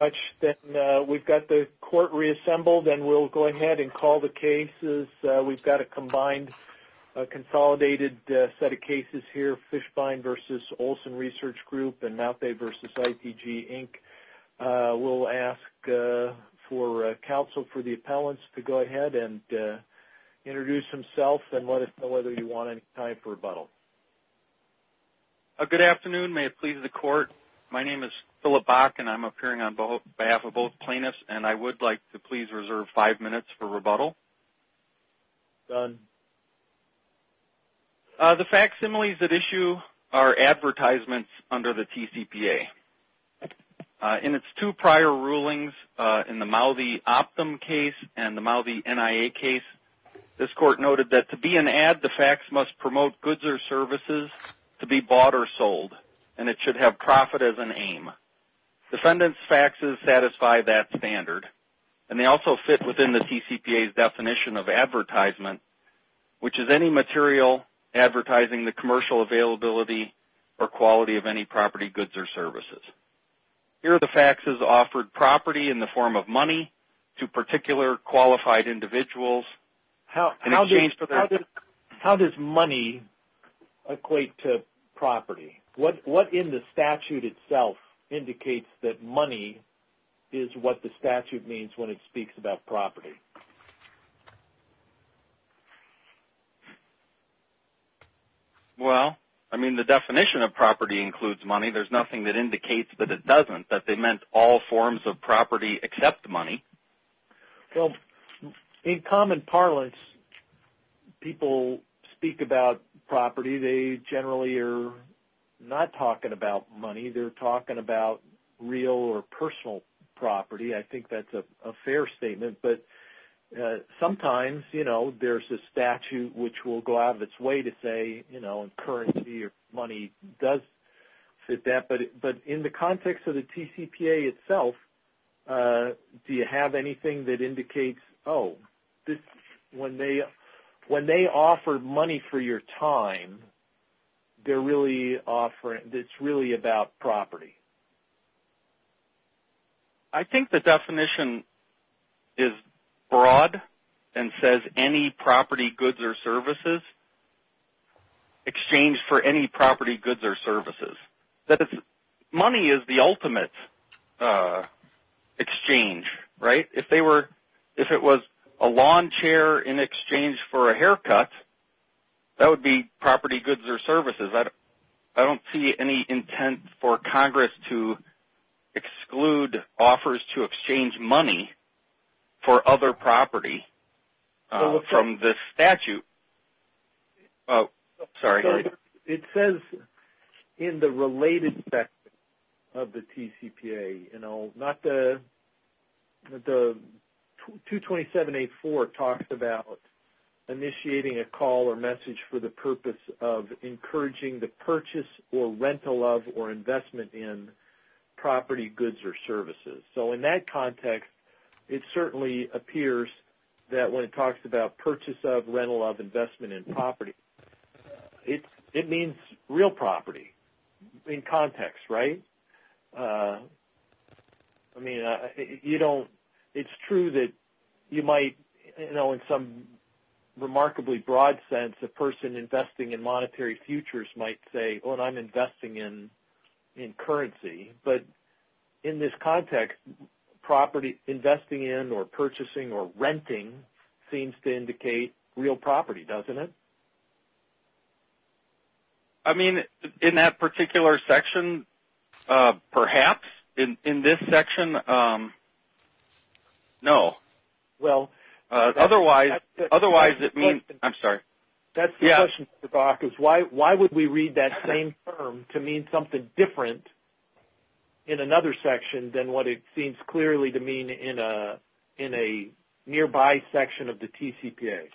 We've got the court reassembled and we'll go ahead and call the cases. We've got a combined, consolidated set of cases here. Fischbein v. Olson Research Group and Mau the v. ITG, Inc. We'll ask for counsel for the appellants to go ahead and introduce themselves and let us know whether you want any time for rebuttal. Good afternoon. May it please the court. My name is Phillip Bach and I'm appearing on behalf of both plaintiffs and I would like to please reserve five minutes for rebuttal. Done. The facsimiles at issue are advertisements under the TCPA. In its two prior rulings in the Mau the Optum case and the Mau the NIA case, this court noted that to be an ad, the fax must promote goods or services to be bought or sold and it should have profit as an aim. Defendants' faxes satisfy that standard and they also fit within the TCPA's definition of advertisement, which is any material advertising the commercial availability or quality of any property, goods, or services. Here the faxes offered property in the form of money to particular qualified individuals. How does money equate to property? What in the statute itself indicates that money is what the statute means when it speaks about property? Well, I mean the definition of property includes money. There's nothing that indicates that it doesn't, that they meant all forms of property except money. Well, in common parlance, people speak about property. They generally are not talking about money. They're talking about real or personal property. I think that's a fair statement. But sometimes, you know, there's a statute which will go out of its way to say, you know, currency or money does fit that. But in the context of the TCPA itself, do you have anything that indicates, oh, when they offer money for your time, they're really offering, it's really about property. I think the definition is broad and says any property, goods, or services, exchange for any property, goods, or services. Money is the ultimate exchange, right? If it was a lawn chair in exchange for a haircut, that would be property, goods, or services. I don't see any intent for Congress to exclude offers to exchange money for other property from this statute. Sorry. It says in the related section of the TCPA, you know, the 227-84 talks about initiating a call or message for the purpose of encouraging the purchase or rental of or investment in property, goods, or services. So in that context, it certainly appears that when it talks about purchase of, rental of, investment in property, it means real property in context, right? I mean, you know, it's true that you might, you know, in some remarkably broad sense, a person investing in monetary futures might say, oh, and I'm investing in currency. But in this context, property investing in or purchasing or renting seems to indicate real property, doesn't it? I mean, in that particular section, perhaps. In this section, no. Well. Otherwise, it means. I'm sorry. That's the question, Mr. Bach, is why would we read that same term to mean something different in another section than what it seems clearly to mean in a nearby section of the TCPA?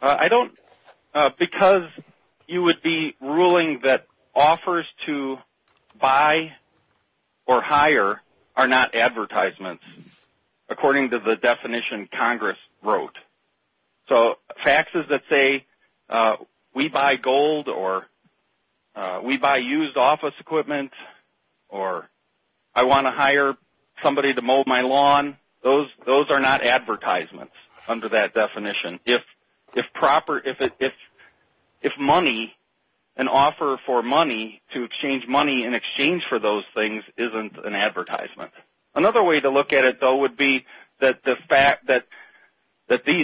I don't. Because you would be ruling that offers to buy or hire are not advertisements, according to the definition Congress wrote. So faxes that say we buy gold or we buy used office equipment or I want to hire somebody to mow my lawn, those are not advertisements under that definition. If money, an offer for money to exchange money in exchange for those things isn't an advertisement. Another way to look at it, though, would be that these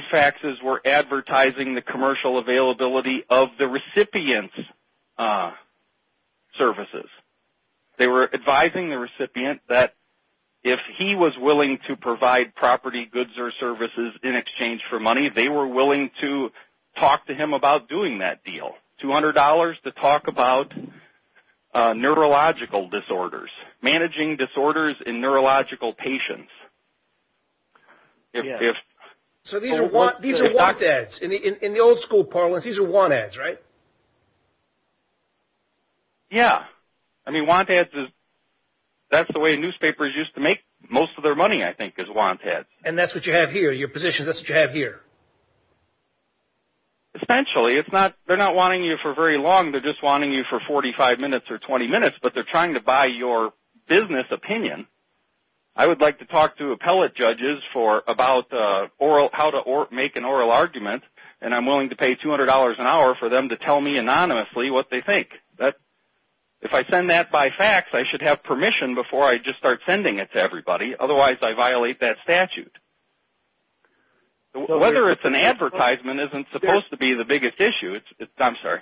faxes were advertising the commercial availability of the recipient's services. They were advising the recipient that if he was willing to provide property, goods or services in exchange for money, they were willing to talk to him about doing that deal, $200 to talk about neurological disorders, managing disorders in neurological patients. So these are want ads. In the old school parlance, these are want ads, right? Yeah. I mean, want ads, that's the way newspapers used to make most of their money, I think, is want ads. And that's what you have here? Your position, that's what you have here? Essentially. They're not wanting you for very long. They're just wanting you for 45 minutes or 20 minutes, but they're trying to buy your business opinion. I would like to talk to appellate judges about how to make an oral argument, and I'm willing to pay $200 an hour for them to tell me anonymously what they think. If I send that by fax, I should have permission before I just start sending it to everybody. Otherwise, I violate that statute. Whether it's an advertisement isn't supposed to be the biggest issue. I'm sorry.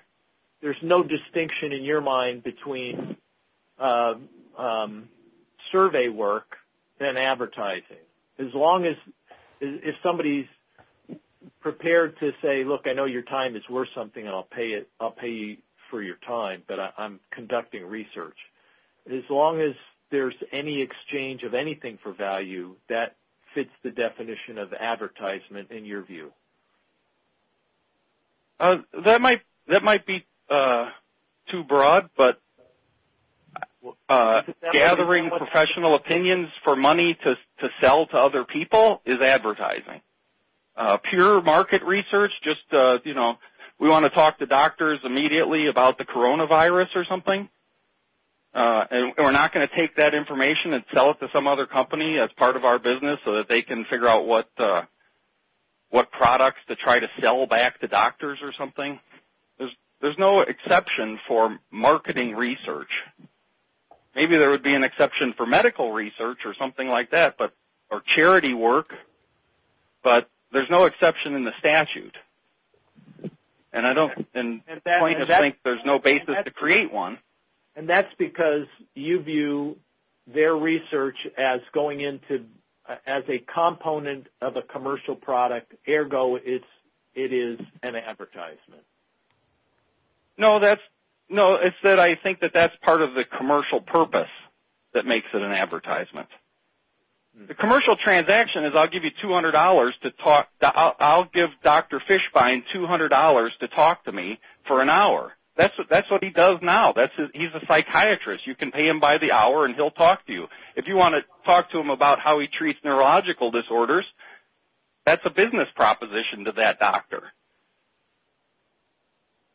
There's no distinction in your mind between survey work and advertising. As long as if somebody's prepared to say, look, I know your time is worth something, and I'll pay you for your time, but I'm conducting research. As long as there's any exchange of anything for value, that fits the definition of advertisement in your view. That might be too broad, but gathering professional opinions for money to sell to other people is advertising. Pure market research, just, you know, we want to talk to doctors immediately about the coronavirus or something, and we're not going to take that information and sell it to some other company as part of our business so that they can figure out what products to try to sell back to doctors or something. There's no exception for marketing research. Maybe there would be an exception for medical research or something like that or charity work, but there's no exception in the statute, and plaintiffs think there's no basis to create one. And that's because you view their research as a component of a commercial product. Ergo, it is an advertisement. No, it's that I think that that's part of the commercial purpose that makes it an advertisement. The commercial transaction is I'll give Dr. Fishbein $200 to talk to me for an hour. That's what he does now. He's a psychiatrist. You can pay him by the hour, and he'll talk to you. If you want to talk to him about how he treats neurological disorders, that's a business proposition to that doctor.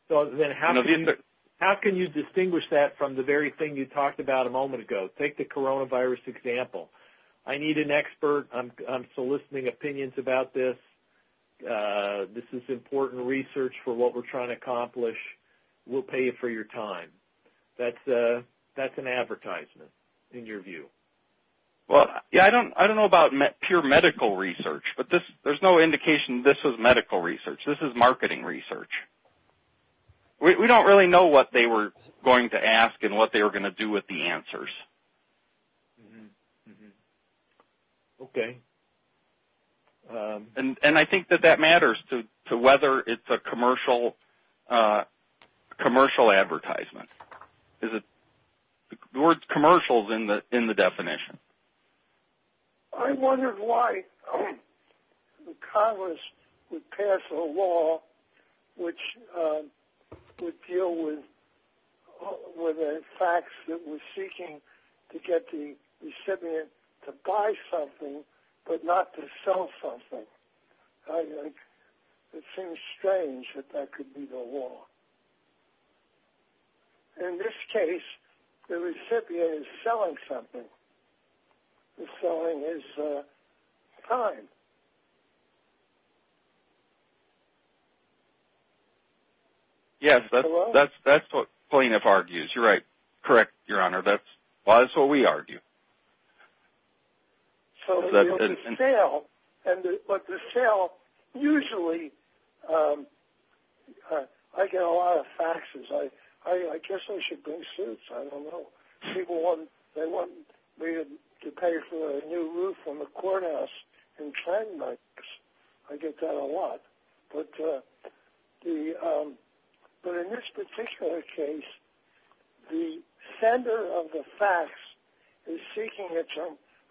So then how can you distinguish that from the very thing you talked about a moment ago? Take the coronavirus example. I need an expert. I'm soliciting opinions about this. This is important research for what we're trying to accomplish. We'll pay you for your time. That's an advertisement in your view. Well, yeah, I don't know about pure medical research, but there's no indication this is medical research. This is marketing research. We don't really know what they were going to ask and what they were going to do with the answers. Okay. And I think that that matters to whether it's a commercial advertisement. The word commercial is in the definition. I wondered why Congress would pass a law which would deal with the facts that we're seeking to get the recipient to buy something but not to sell something. It seems strange that that could be the law. In this case, the recipient is selling something. The selling is time. Yes, that's what plaintiff argues. You're right. Correct, Your Honor. That's what we argue. So the sale, usually I get a lot of faxes. I guess I should bring suits. I don't know. People want me to pay for a new roof on the courthouse in 10 months. I get that a lot. But in this particular case, the sender of the fax is seeking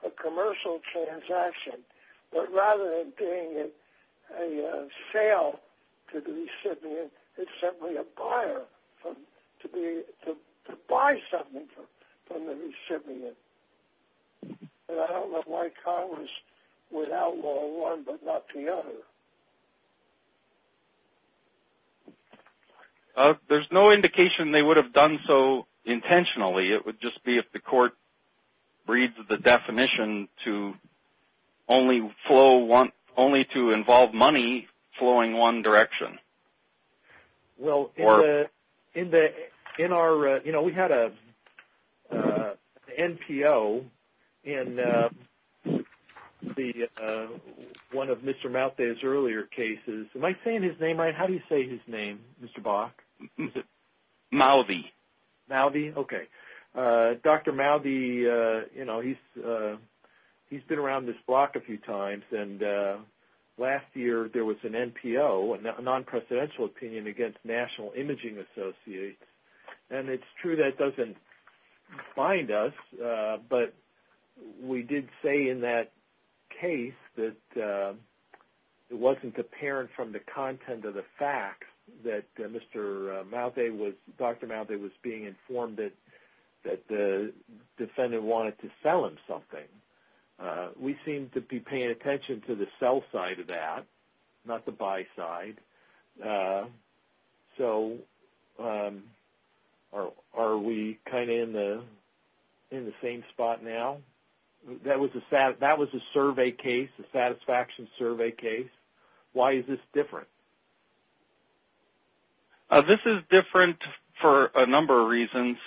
a commercial transaction. But rather than paying a sale to the recipient, it's simply a buyer to buy something from the recipient. I don't know why Congress would outlaw one but not the other. There's no indication they would have done so intentionally. It would just be if the court reads the definition to only to involve money flowing one direction. Well, we had an NPO in one of Mr. Maldi's earlier cases. Am I saying his name right? How do you say his name, Mr. Bach? Maldi. Maldi, okay. Dr. Maldi, he's been around this block a few times. Last year there was an NPO, a non-presidential opinion against National Imaging Associates. And it's true that it doesn't bind us, but we did say in that case that it wasn't apparent from the content of the fax that Dr. Maldi was being informed that the defendant wanted to sell him something. We seem to be paying attention to the sell side of that, not the buy side. Are we kind of in the same spot now? That was a satisfaction survey case. Why is this different? This is different for a number of reasons.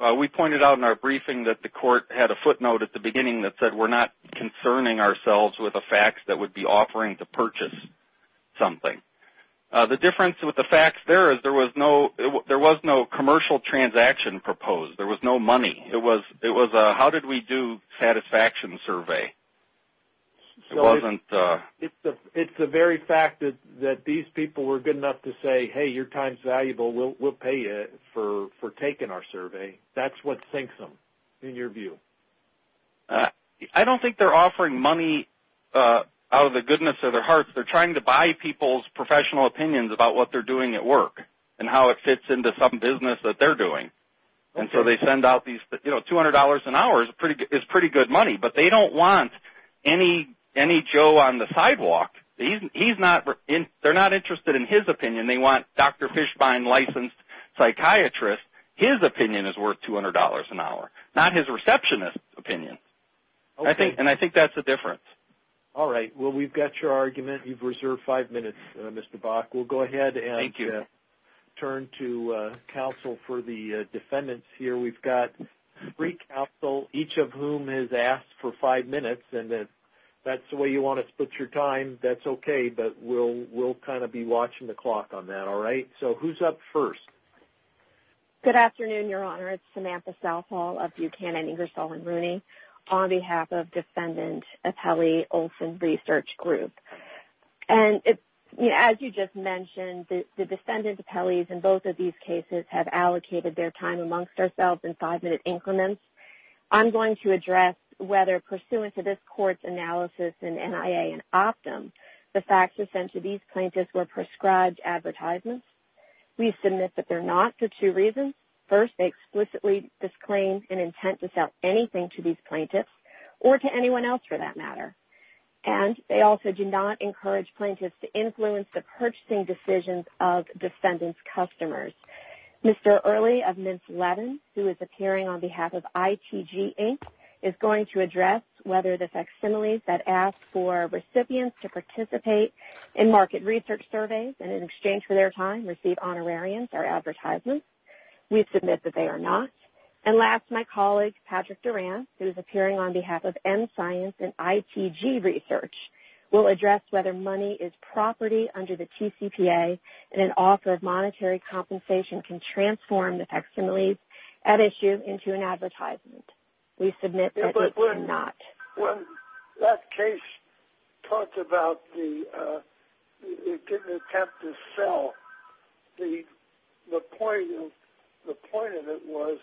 We pointed out in our briefing that the court had a footnote at the beginning that said we're not concerning ourselves with a fax that would be offering to purchase something. The difference with the fax there is there was no commercial transaction proposed. There was no money. It was a how did we do satisfaction survey. It's the very fact that these people were good enough to say, hey, your time's valuable. We'll pay you for taking our survey. That's what sinks them, in your view. I don't think they're offering money out of the goodness of their hearts. They're trying to buy people's professional opinions about what they're doing at work and how it fits into some business that they're doing. And so they send out these, you know, $200 an hour is pretty good money. But they don't want any Joe on the sidewalk. They're not interested in his opinion. They want Dr. Fishbein licensed psychiatrist. His opinion is worth $200 an hour, not his receptionist opinion. And I think that's the difference. All right. Well, we've got your argument. You've reserved five minutes, Mr. Bach. We'll go ahead and turn to counsel for the defendants here. We've got three counsel, each of whom has asked for five minutes. And if that's the way you want to split your time, that's okay. But we'll kind of be watching the clock on that. All right. So who's up first? Good afternoon, Your Honor. It's Samantha Southall of Buchanan, Ingersoll, and Rooney, on behalf of Defendant Appellee Olson Research Group. And as you just mentioned, the defendant appellees in both of these cases have allocated their time amongst ourselves in five-minute increments. I'm going to address whether pursuant to this court's analysis in NIA and Optum, the faxes sent to these plaintiffs were prescribed advertisements. We submit that they're not for two reasons. First, they explicitly disclaim an intent to sell anything to these plaintiffs or to anyone else for that matter. And they also do not encourage plaintiffs to influence the purchasing decisions of defendants' customers. Mr. Early of Mintz-Levin, who is appearing on behalf of ITG Inc., is going to address whether the facsimiles that ask for recipients to participate in market research surveys and in exchange for their time receive honorarians or advertisements. We submit that they are not. And last, my colleague Patrick Durant, who is appearing on behalf of N-Science and ITG Research, will address whether money is property under the TCPA and an offer of monetary compensation can transform the facsimiles at issue into an advertisement. We submit that they're not. When that case talked about the intent to sell, the point of it was